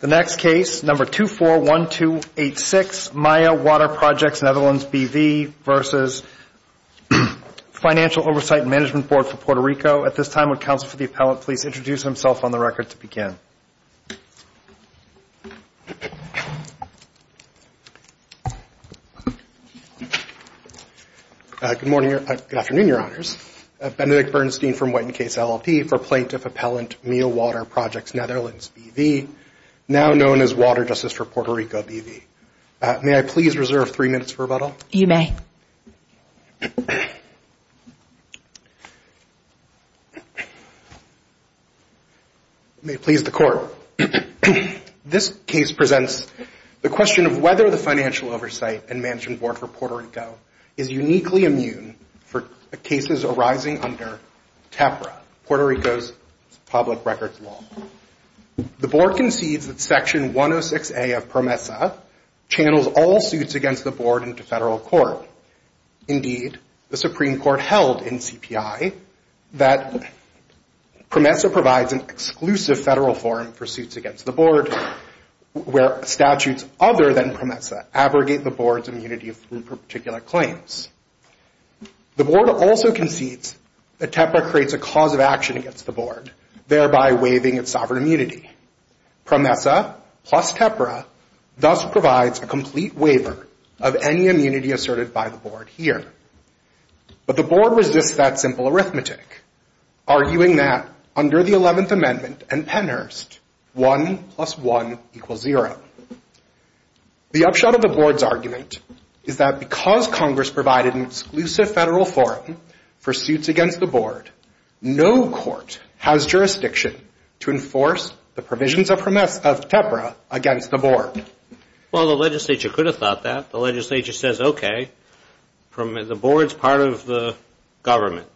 The next case, number 241286, Maya Water Projects Netherlands B.V. v. Financial Oversight and Management Board for Puerto Rico. At this time, would counsel for the appellant please introduce himself on the record to begin. Good morning, good afternoon, Your Honors. I'm Benedict Bernstein from Whiten Case LLP for Plaintiff Appellant Miya Water Projects Netherlands B.V., now known as Water Justice for Puerto Rico B.V. May I please reserve three minutes for rebuttal? You may. May it please the Court. This case presents the question of whether the Financial Oversight and Management Board for Puerto Rico is uniquely immune for cases arising under TEPRA, Puerto Rico's public records law. The Board concedes that Section 106A of PROMESA channels all suits against the Board into federal court. Indeed, the Supreme Court held in CPI that PROMESA provides an exclusive federal forum for suits against the Board. Where statutes other than PROMESA abrogate the Board's immunity for particular claims. The Board also concedes that TEPRA creates a cause of action against the Board, thereby waiving its sovereign immunity. PROMESA plus TEPRA thus provides a complete waiver of any immunity asserted by the Board here. But the Board resists that simple arithmetic, arguing that under the 11th Amendment and Pennhurst, 1 plus 1 equals 0. The upshot of the Board's argument is that because Congress provided an exclusive federal forum for suits against the Board, no court has jurisdiction to enforce the provisions of PROMESA of TEPRA against the Board. Well, the legislature could have thought that. The legislature says, okay, the Board's part of the government.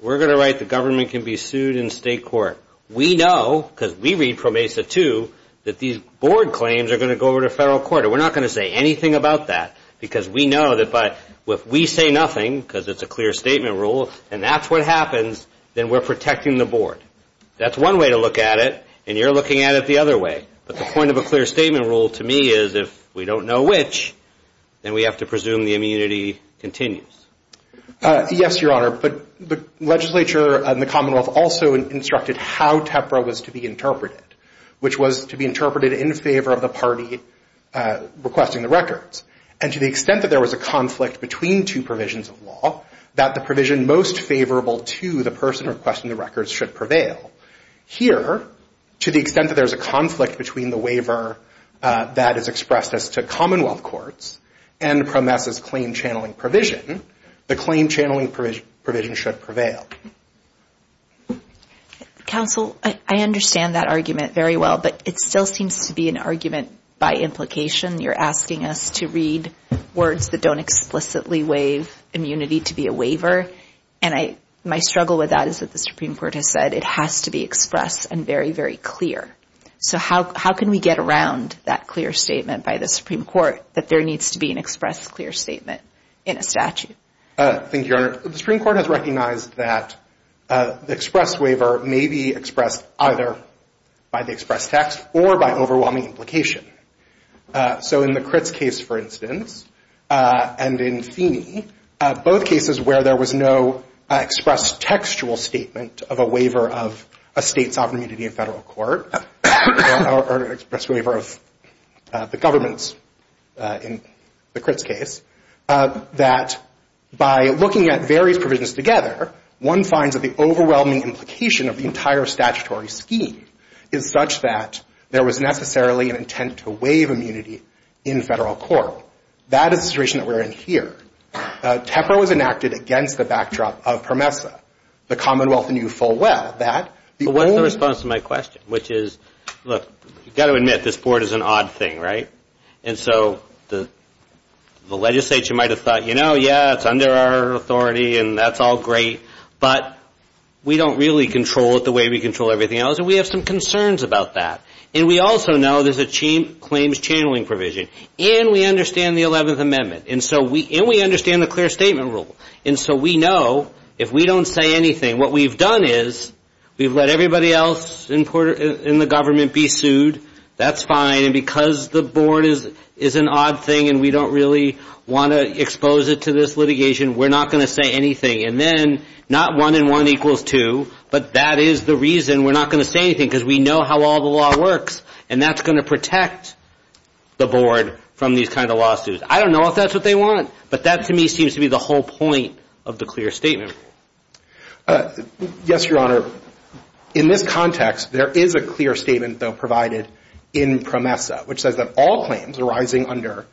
We're going to write the government can be sued in state court. We know, because we read PROMESA too, that these Board claims are going to go over to federal court. And we're not going to say anything about that, because we know that if we say nothing, because it's a clear statement rule, and that's what happens, then we're protecting the Board. That's one way to look at it, and you're looking at it the other way. But the point of a clear statement rule, to me, is if we don't know which, then we have to presume the immunity continues. Yes, Your Honor, but the legislature and the Commonwealth also instructed how TEPRA was to be interpreted, which was to be interpreted in favor of the party requesting the records. And to the extent that there was a conflict between two provisions of law, that the provision most favorable to the person requesting the records should prevail. Here, to the extent that there's a conflict between the waiver that is expressed as to Commonwealth courts and PROMESA's claim channeling provision, the claim channeling provision should prevail. Counsel, I understand that argument very well, but it still seems to be an argument by implication. You're asking us to read words that don't explicitly waive immunity to be a waiver, and my struggle with that is that the Supreme Court has said it has to be expressed and very, very clear. So how can we get around that clear statement by the Supreme Court that there needs to be an expressed clear statement in a statute? Thank you, Your Honor. Your Honor, the Supreme Court has recognized that the expressed waiver may be expressed either by the expressed text or by overwhelming implication. So in the Critts case, for instance, and in Feeney, both cases where there was no expressed textual statement of a waiver of a state sovereign immunity in federal court, or an expressed waiver of the government's in the Critts case, that by looking at various provisions together, one finds that the overwhelming implication of the entire statutory scheme is such that there was necessarily an intent to waive immunity in federal court. That is the situation that we're in here. TEPRA was enacted against the backdrop of PROMESA. The commonwealth knew full well that the old... But what's the response to my question, which is, look, you've got to admit, this board is an odd thing, right? And so the legislature might have thought, you know, yeah, it's under our authority and that's all great, but we don't really control it the way we control everything else, and we have some concerns about that. And we also know there's a claims channeling provision. And we understand the 11th Amendment. And we understand the clear statement rule. And so we know if we don't say anything, what we've done is we've let everybody else in the government be sued. That's fine. And because the board is an odd thing and we don't really want to expose it to this litigation, we're not going to say anything. And then not one and one equals two, but that is the reason we're not going to say anything, because we know how all the law works, and that's going to protect the board from these kind of lawsuits. I don't know if that's what they want, but that to me seems to be the whole point of the clear statement rule. Yes, Your Honor. In this context, there is a clear statement, though, provided in PROMESA, which says that all claims arising under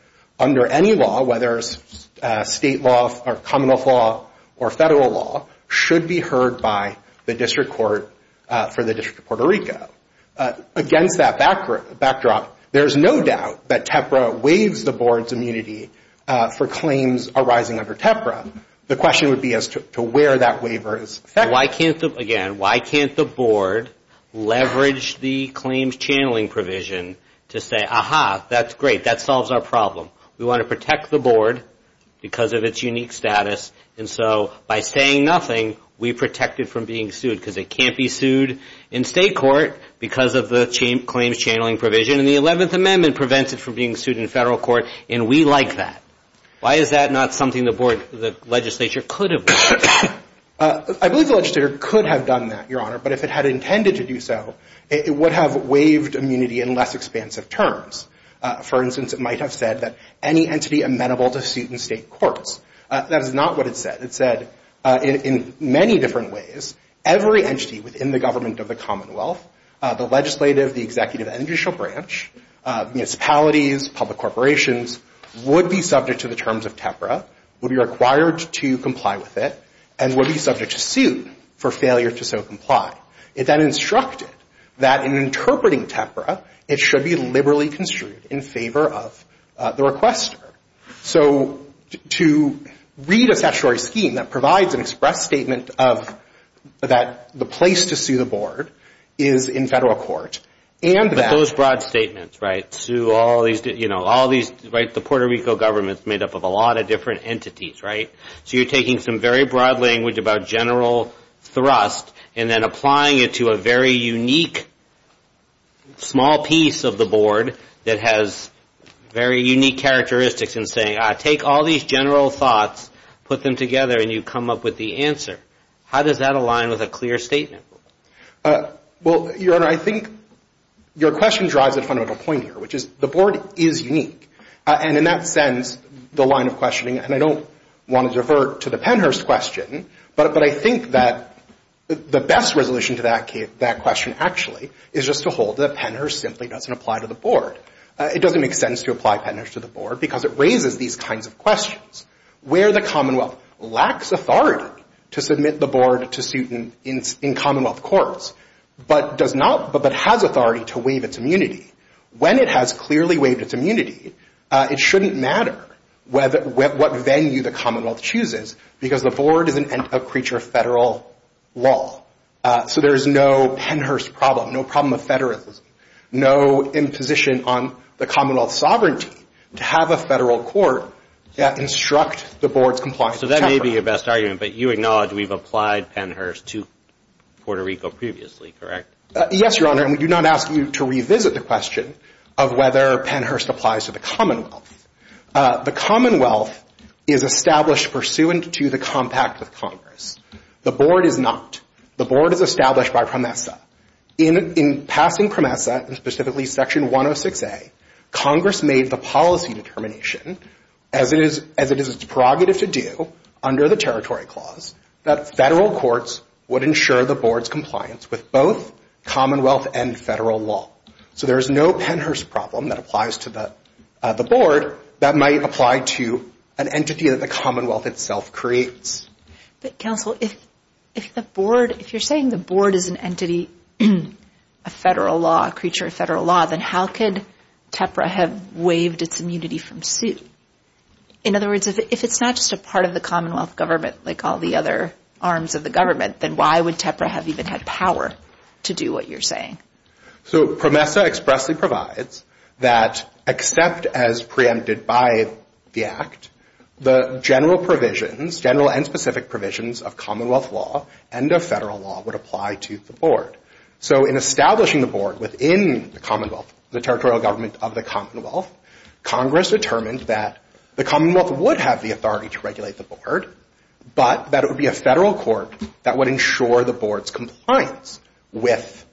any law, whether it's state law or common law or federal law, should be heard by the district court for the District of Puerto Rico. Against that backdrop, there's no doubt that TEPRA waives the board's immunity for claims arising under TEPRA. The question would be as to where that waiver is effective. Again, why can't the board leverage the claims channeling provision to say, aha, that's great, that solves our problem. We want to protect the board because of its unique status, and so by saying nothing, we protect it from being sued, because it can't be sued in state court because of the claims channeling provision, and the 11th Amendment prevents it from being sued in federal court, and we like that. Why is that not something the legislature could have done? I believe the legislature could have done that, Your Honor, but if it had intended to do so, it would have waived immunity in less expansive terms. For instance, it might have said that any entity amenable to suit in state courts. That is not what it said. It said, in many different ways, every entity within the government of the Commonwealth, the legislative, the executive, and judicial branch, municipalities, public corporations, would be subject to the terms of TEPRA, would be required to comply with it, and would be subject to suit for failure to so comply. It then instructed that in interpreting TEPRA, it should be liberally construed in favor of the requester. So to read a statutory scheme that provides an express statement of that the place to sue the board is in federal court, and that... But those broad statements, right, sue all these, you know, all these, right, the Puerto Rico government is made up of a lot of different entities, right? So you're taking some very broad language about general thrust and then applying it to a very unique, small piece of the board that has very unique characteristics and saying, take all these general thoughts, put them together, and you come up with the answer. How does that align with a clear statement? Well, Your Honor, I think your question drives a fundamental point here, which is the board is unique. And in that sense, the line of questioning, and I don't want to divert to the Pennhurst question, but I think that the best resolution to that question actually is just to hold that Pennhurst simply doesn't apply to the board. It doesn't make sense to apply Pennhurst to the board because it raises these kinds of questions. Where the commonwealth lacks authority to submit the board to suit in commonwealth courts, but does not, but has authority to waive its immunity, when it has clearly waived its immunity, it shouldn't matter what venue the commonwealth chooses, because the board is a creature of federal law. So there is no Pennhurst problem, no problem of federalism, no imposition on the commonwealth's sovereignty to have a federal court instruct the board's compliance. So that may be your best argument, but you acknowledge we've applied Pennhurst to Puerto Rico previously, correct? Yes, Your Honor, and we do not ask you to revisit the question of whether Pennhurst applies to the commonwealth. The commonwealth is established pursuant to the compact of Congress. The board is not. The board is established by PROMESA. In passing PROMESA, and specifically Section 106A, Congress made the policy determination, as it is its prerogative to do under the Territory Clause, that federal courts would ensure the board's compliance with both commonwealth and federal law. So there is no Pennhurst problem that applies to the board that might apply to an entity that the commonwealth itself creates. But, counsel, if the board, if you're saying the board is an entity of federal law, a creature of federal law, then how could TEPRA have waived its immunity from suit? In other words, if it's not just a part of the commonwealth government, like all the other arms of the government, then why would TEPRA have even had power to do what you're saying? So PROMESA expressly provides that, except as preempted by the Act, the general provisions, general and specific provisions of commonwealth law and of federal law would apply to the board. So in establishing the board within the commonwealth, the territorial government of the commonwealth, Congress determined that the commonwealth would have the authority to regulate the board, but that it would be a federal court that would ensure the board's compliance with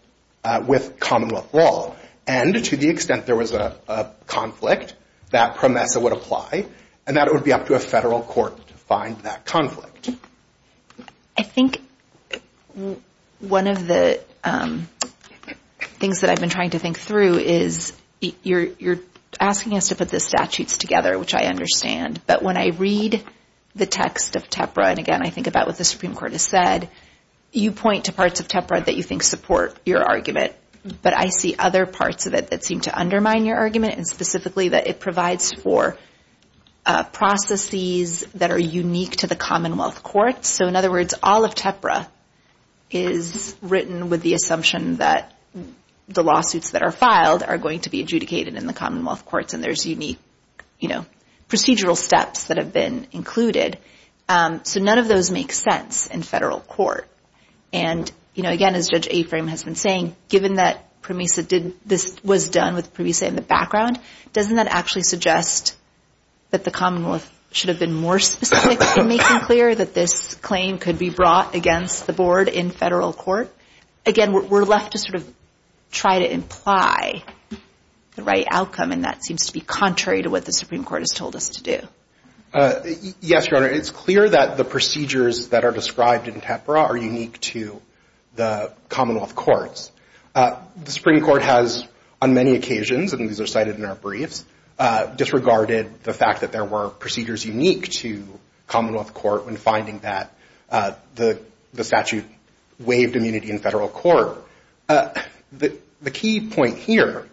commonwealth law. And to the extent there was a conflict, that PROMESA would apply, and that it would be up to a federal court to find that conflict. I think one of the things that I've been trying to think through is, you're asking us to put the statutes together, which I understand, but when I read the text of TEPRA, and again, I think about what the Supreme Court has said, you point to parts of TEPRA that you think support your argument, but I see other parts of it that seem to undermine your argument, and specifically that it provides for processes that are unique to the commonwealth court. So in other words, all of TEPRA is written with the assumption that the lawsuits that are filed are going to be adjudicated in the commonwealth courts, and there's unique procedural steps that have been included. So none of those make sense in federal court. And again, as Judge Aframe has been saying, given that this was done with PROMESA in the background, doesn't that actually suggest that the commonwealth should have been more specific in making clear that this claim could be brought against the board in federal court? Again, we're left to sort of try to imply the right outcome, and that seems to be contrary to what the Supreme Court has told us to do. Yes, Your Honor, it's clear that the procedures that are described in TEPRA are unique to the commonwealth courts. The Supreme Court has on many occasions, and these are cited in our briefs, disregarded the fact that there were procedures unique to commonwealth court when finding that the statute waived immunity in federal court. The key point here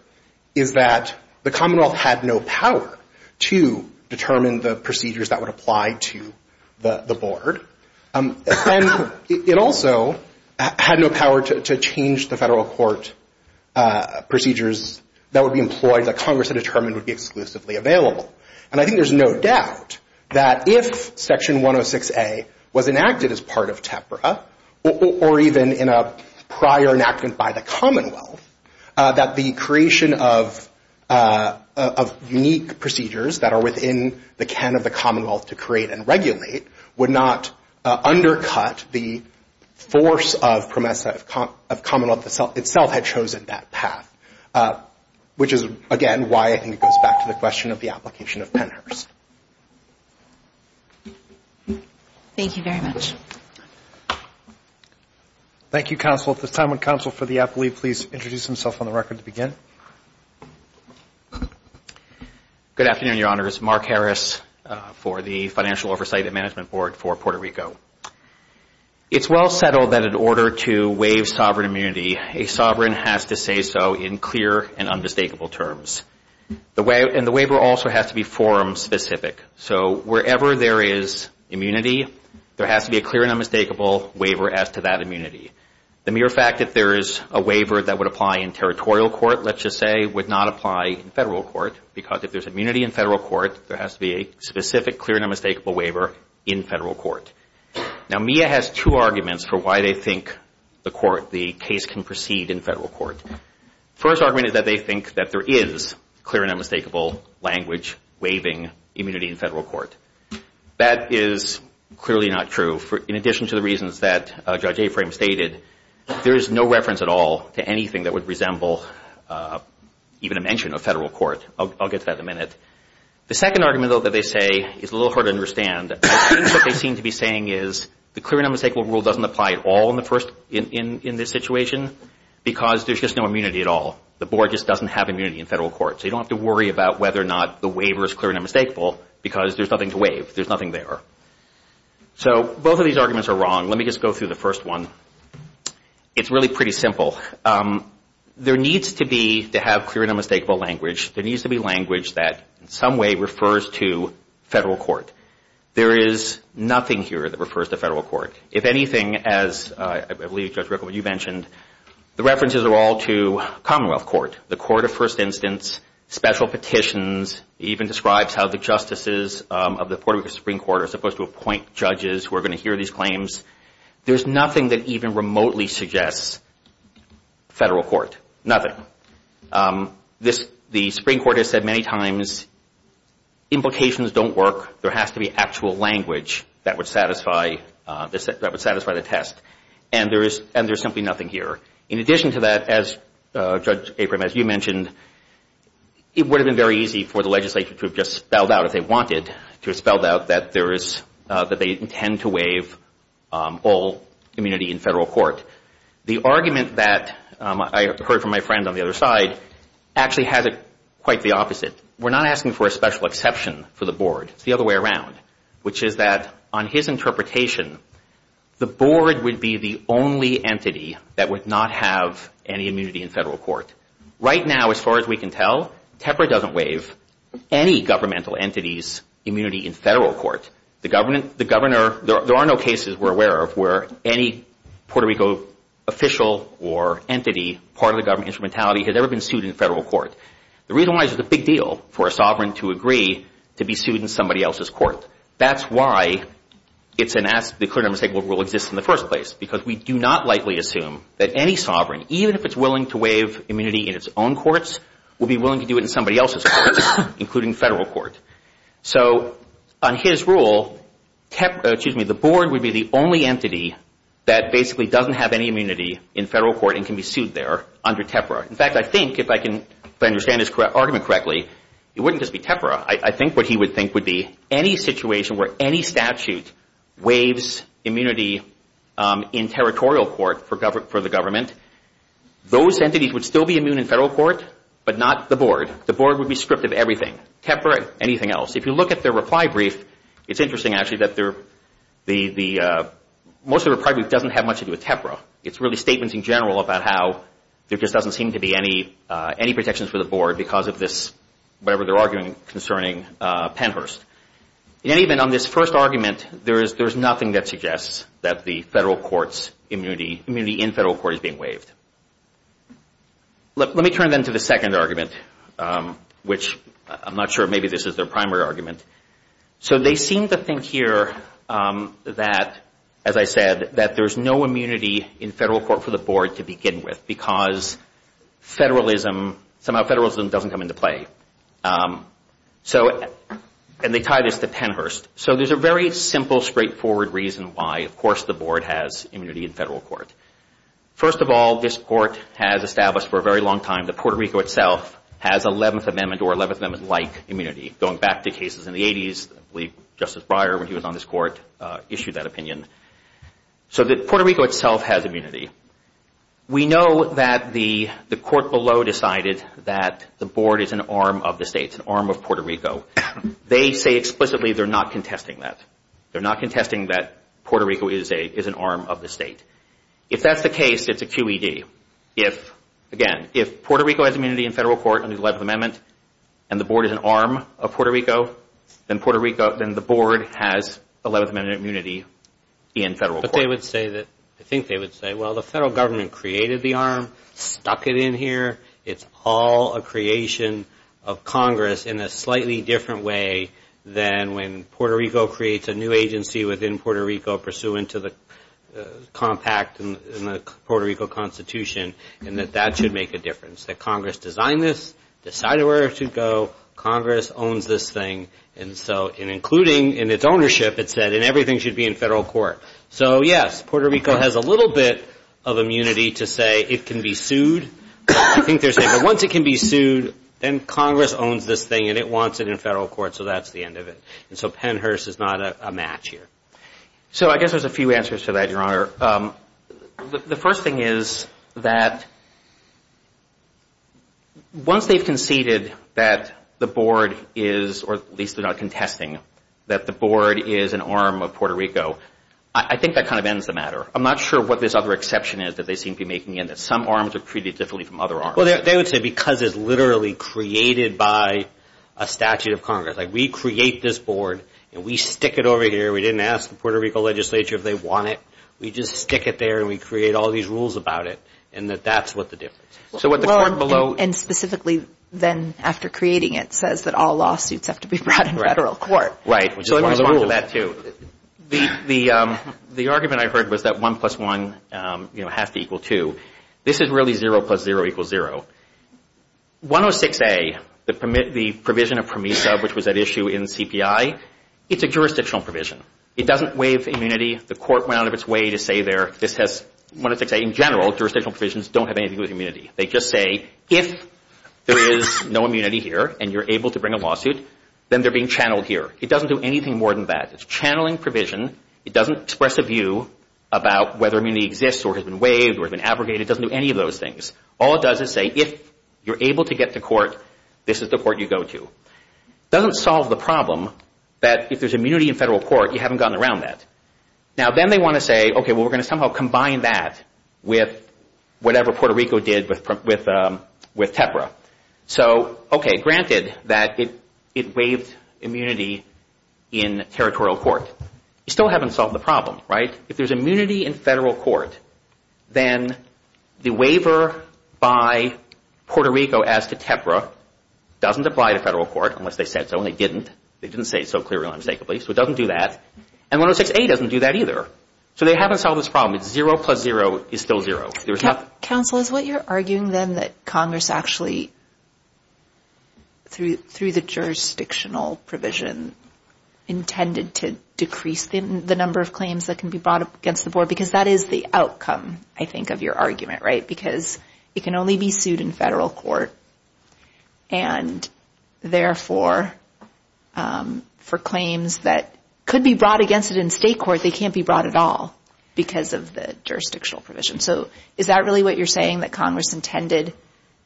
is that the commonwealth had no power to determine the procedures that would apply to the board, and it also had no power to change the federal court procedures that would be employed that Congress had determined would be exclusively available. And I think there's no doubt that if Section 106A was enacted as part of TEPRA, or even in a prior enactment by the commonwealth, that the creation of unique procedures that are within the can of the commonwealth to create and regulate would not undercut the force of PROMESA, of commonwealth itself had chosen that path, which is, again, why I think it goes back to the question of the application of Pennhurst. Thank you very much. Thank you, counsel. At this time, would counsel for the appellee please introduce himself on the record to begin? Good afternoon, Your Honors. Mark Harris for the Financial Oversight and Management Board for Puerto Rico. It's well settled that in order to waive sovereign immunity, a sovereign has to say so in clear and undistinguishable terms. And the waiver also has to be forum specific. So wherever there is immunity, there has to be a clear and unmistakable waiver as to that immunity. The mere fact that there is a waiver that would apply in territorial court, let's just say, would not apply in federal court, because if there's immunity in federal court, there has to be a specific clear and unmistakable waiver in federal court. Now, MIA has two arguments for why they think the case can proceed in federal court. First argument is that they think that there is clear and unmistakable language waiving immunity in federal court. That is clearly not true. In addition to the reasons that Judge Aframe stated, there is no reference at all to anything that would resemble even a mention of federal court. I'll get to that in a minute. The second argument, though, that they say is a little hard to understand. I think what they seem to be saying is the clear and unmistakable rule doesn't apply at all in this situation, because there's just no immunity at all. The Board just doesn't have immunity in federal court. So you don't have to worry about whether or not the waiver is clear and unmistakable, because there's nothing to waive. There's nothing there. So both of these arguments are wrong. Let me just go through the first one. It's really pretty simple. There needs to be, to have clear and unmistakable language, there needs to be language that in some way refers to federal court. There is nothing here that refers to federal court. If anything, as I believe, Judge Rickle, you mentioned, the references are all to commonwealth court, the court of first instance, special petitions, even describes how the justices of the Supreme Court are supposed to appoint judges who are going to hear these claims. There's nothing that even remotely suggests federal court. Nothing. The Supreme Court has said many times, implications don't work. There has to be actual language that would satisfy the test. And there's simply nothing here. In addition to that, as Judge Aprim, as you mentioned, it would have been very easy for the legislature to have just spelled out if they wanted, to have spelled out that there is, that they intend to waive all immunity in federal court. The argument that I heard from my friend on the other side actually has it quite the opposite. We're not asking for a special exception for the board. It's the other way around, which is that on his interpretation, the board would be the only entity that would not have any immunity in federal court. Right now, as far as we can tell, TEPRA doesn't waive any governmental entity's immunity in federal court. The governor, there are no cases we're aware of where any Puerto Rico official or entity, part of the government instrumentality, has ever been sued in federal court. The reason why is it's a big deal for a sovereign to agree to be sued in somebody else's court. That's why it's an ask, the clear and unmistakable rule exists in the first place, because we do not automatically assume that any sovereign, even if it's willing to waive immunity in its own courts, will be willing to do it in somebody else's court, including federal court. On his rule, the board would be the only entity that basically doesn't have any immunity in federal court and can be sued there under TEPRA. In fact, I think, if I can understand this argument correctly, it wouldn't just be TEPRA. I think what he would think would be any situation where any statute waives immunity in territorial court for the government, those entities would still be immune in federal court, but not the board. The board would be stripped of everything, TEPRA, anything else. If you look at their reply brief, it's interesting, actually, that most of the reply brief doesn't have much to do with TEPRA. It's really statements in general about how there just doesn't seem to be any protections for the board because of this, whatever their argument concerning Pennhurst. Even on this first argument, there's nothing that suggests that the federal court's immunity in federal court is being waived. Let me turn, then, to the second argument, which I'm not sure maybe this is their primary argument. They seem to think here that, as I said, that there's no immunity in federal court for the board to begin with because somehow federalism doesn't come into play. They tie this to Pennhurst. There's a very simple, straightforward reason why, of course, the board has immunity in federal court. First of all, this court has established for a very long time that Puerto Rico itself has 11th Amendment or 11th Amendment-like immunity. Going back to cases in the 80s, I believe Justice Breyer, when he was on this court, issued that opinion. Puerto Rico itself has immunity. We know that the court below decided that the board is an arm of the state, an arm of Puerto Rico. They say explicitly they're not contesting that. They're not contesting that Puerto Rico is an arm of the state. If that's the case, it's a QED. Again, if Puerto Rico has immunity in federal court under the 11th Amendment and the board is an arm of Puerto Rico, then the board has 11th Amendment immunity in federal court. I think they would say, well, the federal government created the arm, stuck it in here. It's all a creation of Congress in a slightly different way than when Puerto Rico creates a new agency within Puerto Rico pursuant to the compact in the Puerto Rico Constitution and that that should make a difference. That Congress designed this, decided where it should go. Congress owns this thing. Including in its ownership, it said everything should be in federal court. Puerto Rico has a little bit of immunity to say it can be sued. Once it can be sued, then Congress owns this thing and it wants it in federal court. That's the end of it. Pennhurst is not a match here. I guess there's a few answers to that, Your Honor. The first thing is that once they've conceded that the board is, or at least they're not contesting that the board is an arm of Puerto Rico, I think that kind of ends the matter. I'm not sure what this other exception is that they seem to be making. Some arms are created differently from other arms. They would say because it's literally created by a statute of Congress. We create this board and we stick it over here. We didn't ask the Puerto Rico legislature if they want it. We just stick it there and we create all these rules about it and that that's what the difference is. And specifically then after creating it says that all lawsuits have to be brought in federal court. Right. The argument I heard was that 1 plus 1 has to equal 2. This is really 0 plus 0 equals 0. It's a jurisdictional provision. It doesn't waive immunity. The court went out of its way to say there, they just say if there is no immunity here and you're able to bring a lawsuit, then they're being channeled here. It doesn't do anything more than that. It's channeling provision. It doesn't express a view about whether immunity exists or has been waived or has been abrogated. It doesn't do any of those things. All it does is say if you're able to get to court, this is the court you go to. It doesn't solve the problem that if there's immunity in federal court, you haven't gotten around that. Now then they want to say, okay, we're going to somehow combine that with whatever Puerto Rico did with TEPRA. Granted that it waived immunity in territorial court. You still haven't solved the problem. If there's immunity in federal court, then the waiver by Puerto Rico as to TEPRA doesn't apply to federal court unless they said so. And it didn't. They didn't say it so clearly and unmistakably. So it doesn't do that. And 106A doesn't do that either. So they haven't solved this problem. It's 0 plus 0 is still 0. Counsel, is what you're arguing then that Congress actually, through the jurisdictional provision, intended to decrease the number of claims that can be brought up against the board? Because that is the outcome, I think, of your argument, right? Because it can only be sued in federal court. And therefore, for claims that could be brought against it in state court, they can't be brought at all because of the jurisdictional provision. So is that really what you're saying? That Congress intended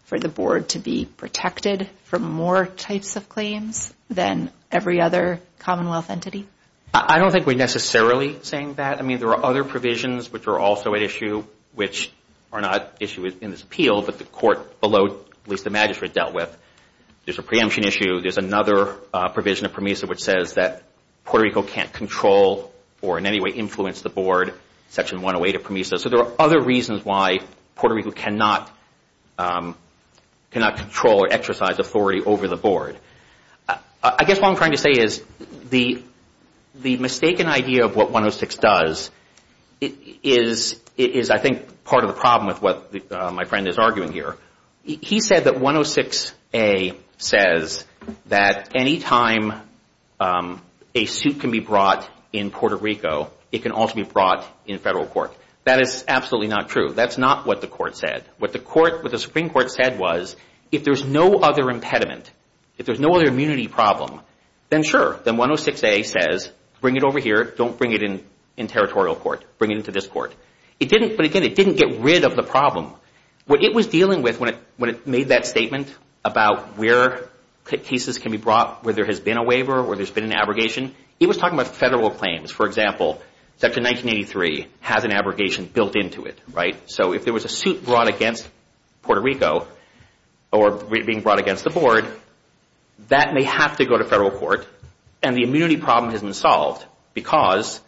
for the board to be protected from more types of claims than every other Commonwealth entity? I don't think we're necessarily saying that. I mean, there are other provisions which are also at issue, which are not issued in this appeal, but the court below, at least the magistrate dealt with. There's a preemption issue. There's another provision of PROMESA which says that Puerto Rico can't control or in any way influence the board, section 108 of PROMESA. So there are other reasons why Puerto Rico cannot control or exercise authority over the board. I guess what I'm trying to say is the mistaken idea of what 106 does is, I think, part of the problem with what my friend is arguing here. He said that 106A says that any time a suit can be brought in Puerto Rico, it can also be brought in federal court. That is absolutely not true. That's not what the court said. What the Supreme Court said was, if there's no other impediment, if there's no other immunity problem, then sure, then 106A says, bring it over here. Don't bring it in territorial court. Bring it into this court. But again, it didn't get rid of the problem. What it was dealing with when it made that statement about where cases can be brought, where there has been a waiver, where there's been an abrogation, it was talking about federal claims. For example, section 1983 has an abrogation built into it. So if there was a suit brought against Puerto Rico or being brought against the board, that may have to go to federal court and the immunity problem has been solved because,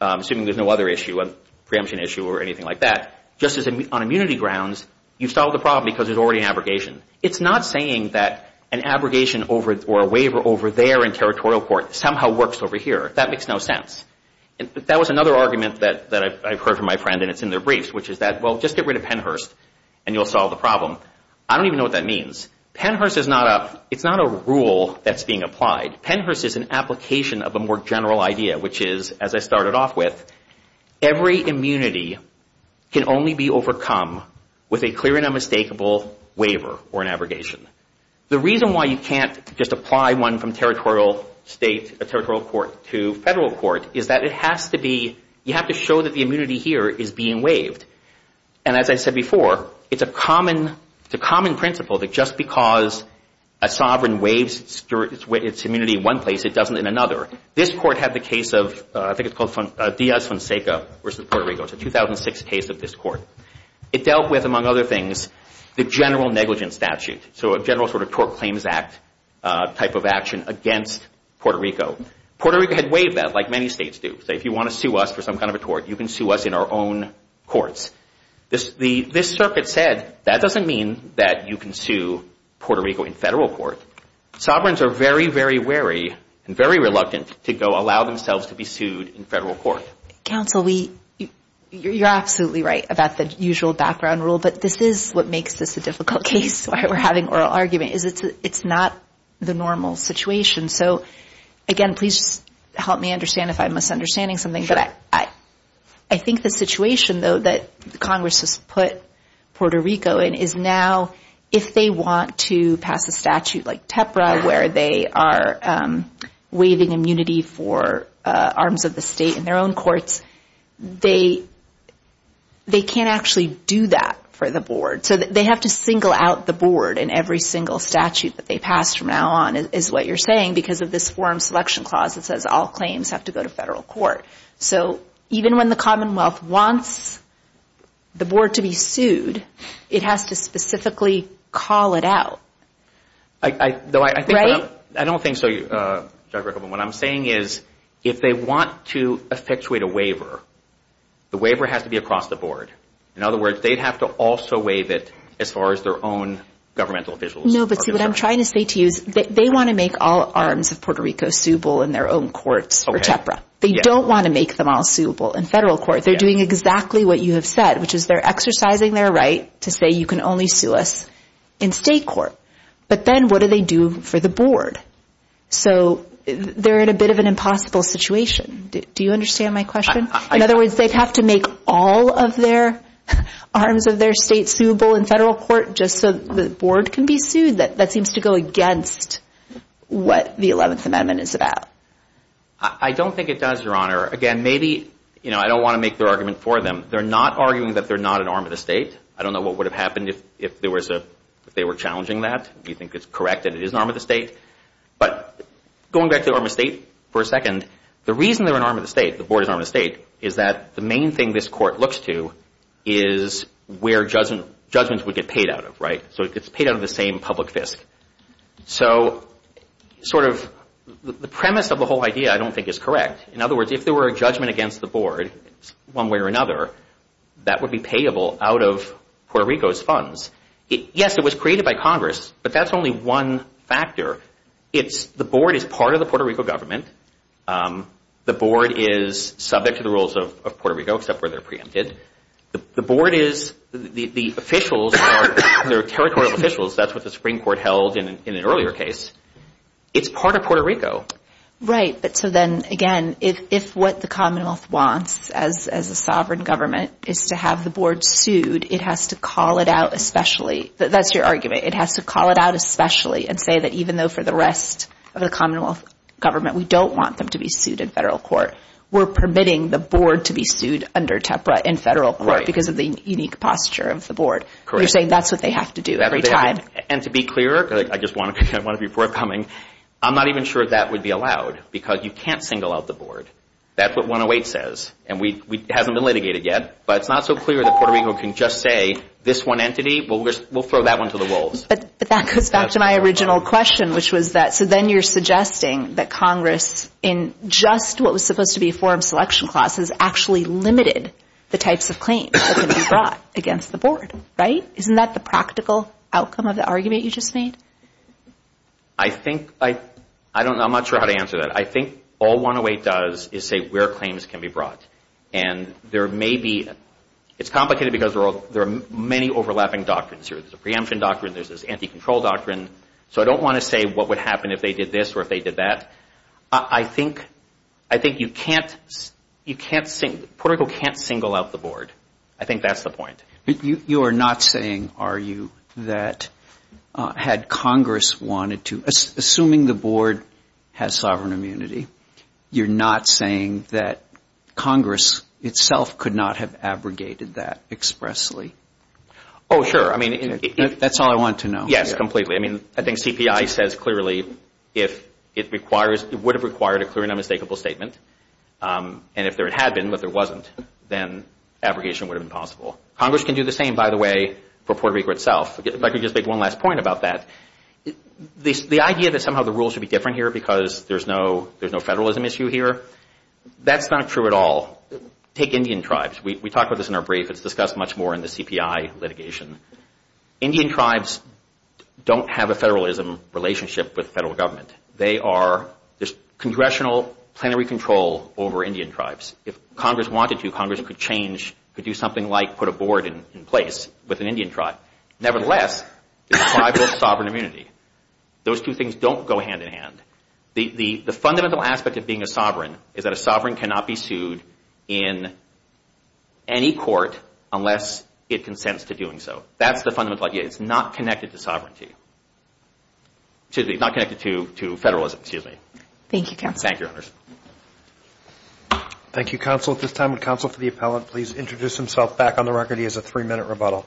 assuming there's no other issue, a preemption issue or anything like that, just on immunity grounds, you've solved the problem because there's already an abrogation. It's not saying that an abrogation or a waiver over there in territorial court somehow works over here. That makes no sense. That was another argument that I've heard from my friend, and it's in their briefs, which is that, well, just get rid of Pennhurst and you'll solve the problem. I don't even know what that means. Pennhurst is not a rule that's being applied. Pennhurst is an application of a more general idea, which is, as I started off with, every immunity can only be overcome with a clear and unmistakable waiver or an abrogation. The reason why you can't just apply one from territorial court to federal court is that it has to be, you have to show that the immunity here is being waived. And as I said before, it's a common principle that just because a sovereign waives its immunity in one place, it doesn't in another. This court had the case of, I think it's called Diaz-Fonseca versus Puerto Rico. It's a 2006 case of this court. It dealt with, among other things, the general negligence statute, so a general sort of Tort Claims Act type of action against Puerto Rico. Puerto Rico had waived that, like many states do. So if you want to sue us for some kind of a tort, you can sue us in our own courts. This circuit said, that doesn't mean that you can sue Puerto Rico in federal court. Sovereigns are very, very wary and very reluctant to go allow themselves to be sued in federal court. Counsel, you're absolutely right about the usual background rule, but this is what makes this a difficult case. That's why we're having oral argument, is it's not the normal situation. Again, please help me understand if I'm misunderstanding something. I think the situation, though, that Congress has put Puerto Rico in is now, if they want to pass a statute like TEPRA, where they are waiving immunity for arms of the state in their own courts, they can't actually do that for the board. So they have to single out the board in every single statute that they pass from now on, is what you're saying, because of this forum selection clause that says all claims have to go to federal court. So even when the Commonwealth wants the board to be sued, it has to specifically call it out. I don't think so, Judge Rickleman. What I'm saying is if they want to effectuate a waiver, the waiver has to be across the board. In other words, they'd have to also waive it as far as their own governmental visuals. No, but see, what I'm trying to say to you is they want to make all arms of Puerto Rico suable in their own courts for TEPRA. They don't want to make them all suable in federal court. They're doing exactly what you have said, which is they're exercising their right to say you can only sue us in state court. But then what do they do for the board? So they're in a bit of an impossible situation. Do you understand my question? In other words, they'd have to make all of their arms of their state suable in federal court just so the board can be sued? That seems to go against what the 11th Amendment is about. I don't think it does, Your Honor. Again, maybe, you know, I don't want to make their argument for them. They're not arguing that they're not an arm of the state. I don't know what would have happened if they were challenging that. You think it's correct that it is an arm of the state? But going back to arm of the state for a second, the reason they're an arm of the state, the board is an arm of the state, is that the main thing this court looks to is where judgments would get paid out of, right? So it gets paid out of the same public fisc. So sort of the premise of the whole idea I don't think is correct. In other words, if there were a judgment against the board one way or another, that would be payable out of Puerto Rico's funds. Yes, it was created by Congress, but that's only one factor. The board is part of the Puerto Rico government. The board is subject to the rules of Puerto Rico except where they're preempted. The board is, the officials are territorial officials. That's what the Supreme Court held in an earlier case. It's part of Puerto Rico. Right, but so then again, if what the commonwealth wants as a sovereign government is to have the board sued, it has to call it out especially, that's your argument, it has to call it out especially and say that even though for the rest of the commonwealth government we don't want them to be sued in federal court, we're permitting the board to be sued under TEPRA in federal court because of the unique posture of the board. You're saying that's what they have to do every time. And to be clear, I just want to be forthcoming, I'm not even sure that would be allowed because you can't single out the board. That's what 108 says. And it hasn't been litigated yet, but it's not so clear that Puerto Rico can just say this one entity, we'll throw that one to the wolves. But that goes back to my original question, which was that, so then you're suggesting that Congress in just what was supposed to be a forum selection class has actually limited the types of claims that can be brought against the board, right? Isn't that the practical outcome of the argument you just made? I think, I'm not sure how to answer that. I think all 108 does is say where claims can be brought. And there may be, it's complicated because there are many overlapping doctrines here. There's a preemption doctrine, there's this anti-control doctrine. So I don't want to say what would happen if they did this or if they did that. I think you can't, Puerto Rico can't single out the board. I think that's the point. You are not saying, are you, that had Congress wanted to, assuming the board has sovereign immunity, you're not saying that Congress itself could not have abrogated that expressly? Oh, sure. That's all I want to know. Yes, completely. I mean, I think CPI says clearly if it requires, it would have required a clear and unmistakable statement. And if there had been, but there wasn't, then abrogation would have been possible. Congress can do the same, by the way, for Puerto Rico itself. If I could just make one last point about that, the idea that somehow the rules should be different here because there's no federalism issue here, that's not true at all. Take Indian tribes. We talked about this in our brief. It's discussed much more in the CPI litigation. Indian tribes don't have a federalism relationship with federal government. They are, there's congressional plenary control over Indian tribes. If Congress wanted to, Congress could change, could do something like put a board in place with an Indian tribe. Nevertheless, it's tribal sovereign immunity. Those two things don't go hand in hand. The fundamental aspect of being a sovereign is that a sovereign cannot be sued in any court unless it consents to doing so. That's the fundamental idea. It's not connected to federalism, excuse me. Thank you, Counsel. Thank you, Counsel. At this time, would Counsel for the Appellant please introduce himself back on the record? He has a three-minute rebuttal.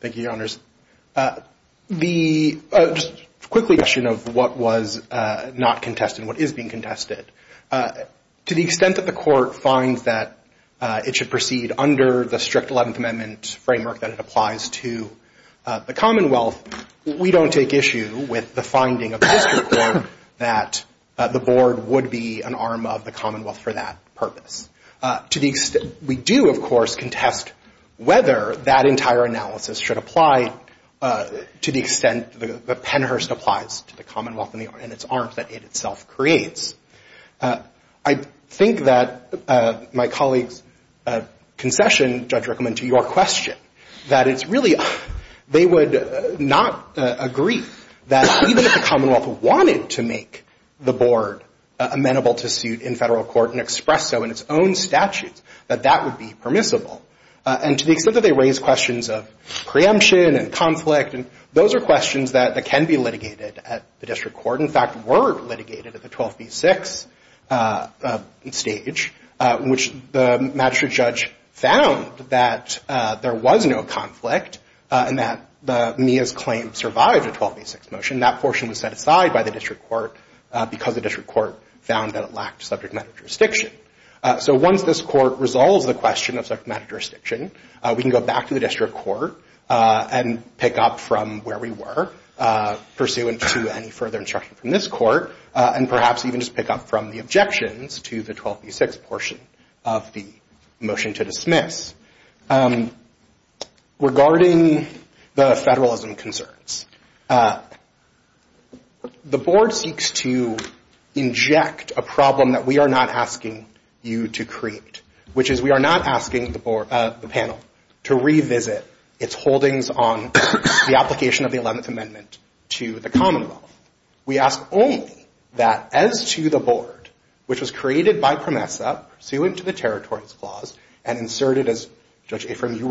Thank you, Your Honors. Just quickly a question of what was not contested and what is being contested. To the extent that the Court finds that it should proceed under the strict 11th Amendment framework that it applies to the Commonwealth, we don't take issue with the finding of this Court that the board would be an arm of the Commonwealth for that purpose. We do, of course, contest whether that entire analysis should apply to the extent that Pennhurst applies to the Commonwealth and its arms that it itself creates. I think that my colleague's concession, Judge Rickman, to your question, that it's really they would not agree that even if the Commonwealth wanted to make the board amenable to suit in federal court and express so in its own way, that it would be an arm of the Commonwealth. That it would have its own statutes, that that would be permissible. And to the extent that they raise questions of preemption and conflict, those are questions that can be litigated at the district court, in fact, were litigated at the 12b6 stage, which the magistrate judge found that there was no conflict and that Mia's claim survived a 12b6 motion. And that portion was set aside by the district court because the district court found that it lacked subject matter jurisdiction. So once this court resolves the question of subject matter jurisdiction, we can go back to the district court and pick up from where we were, pursuant to any further instruction from this court, and perhaps even just pick up from the objections to the 12b6 portion of the motion to dismiss. Regarding the federalism concerns, the board seeks to inject a problem that we are not asking you to create, which is we are not asking the panel to revisit its holdings on the application of the 11th Amendment to the Commonwealth. We ask only that as to the board, which was created by PROMESA pursuant to the territories clause and inserted as part of the 11th Amendment, that it be allowed to revisit its holdings on the application of the 11th Amendment to the Commonwealth. We ask only that as to the board, which was created by PROMESA pursuant to the territories clause and inserted as part of the 11th Amendment, that it be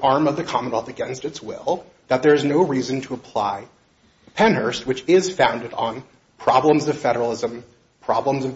allowed to revisit its holdings on the application of the 11th Amendment. We ask only that as to the board, which was created by PROMESA pursuant to the territories clause and inserted as part of the 11th Amendment, that it be allowed to revisit its holdings on the application of the 11th Amendment.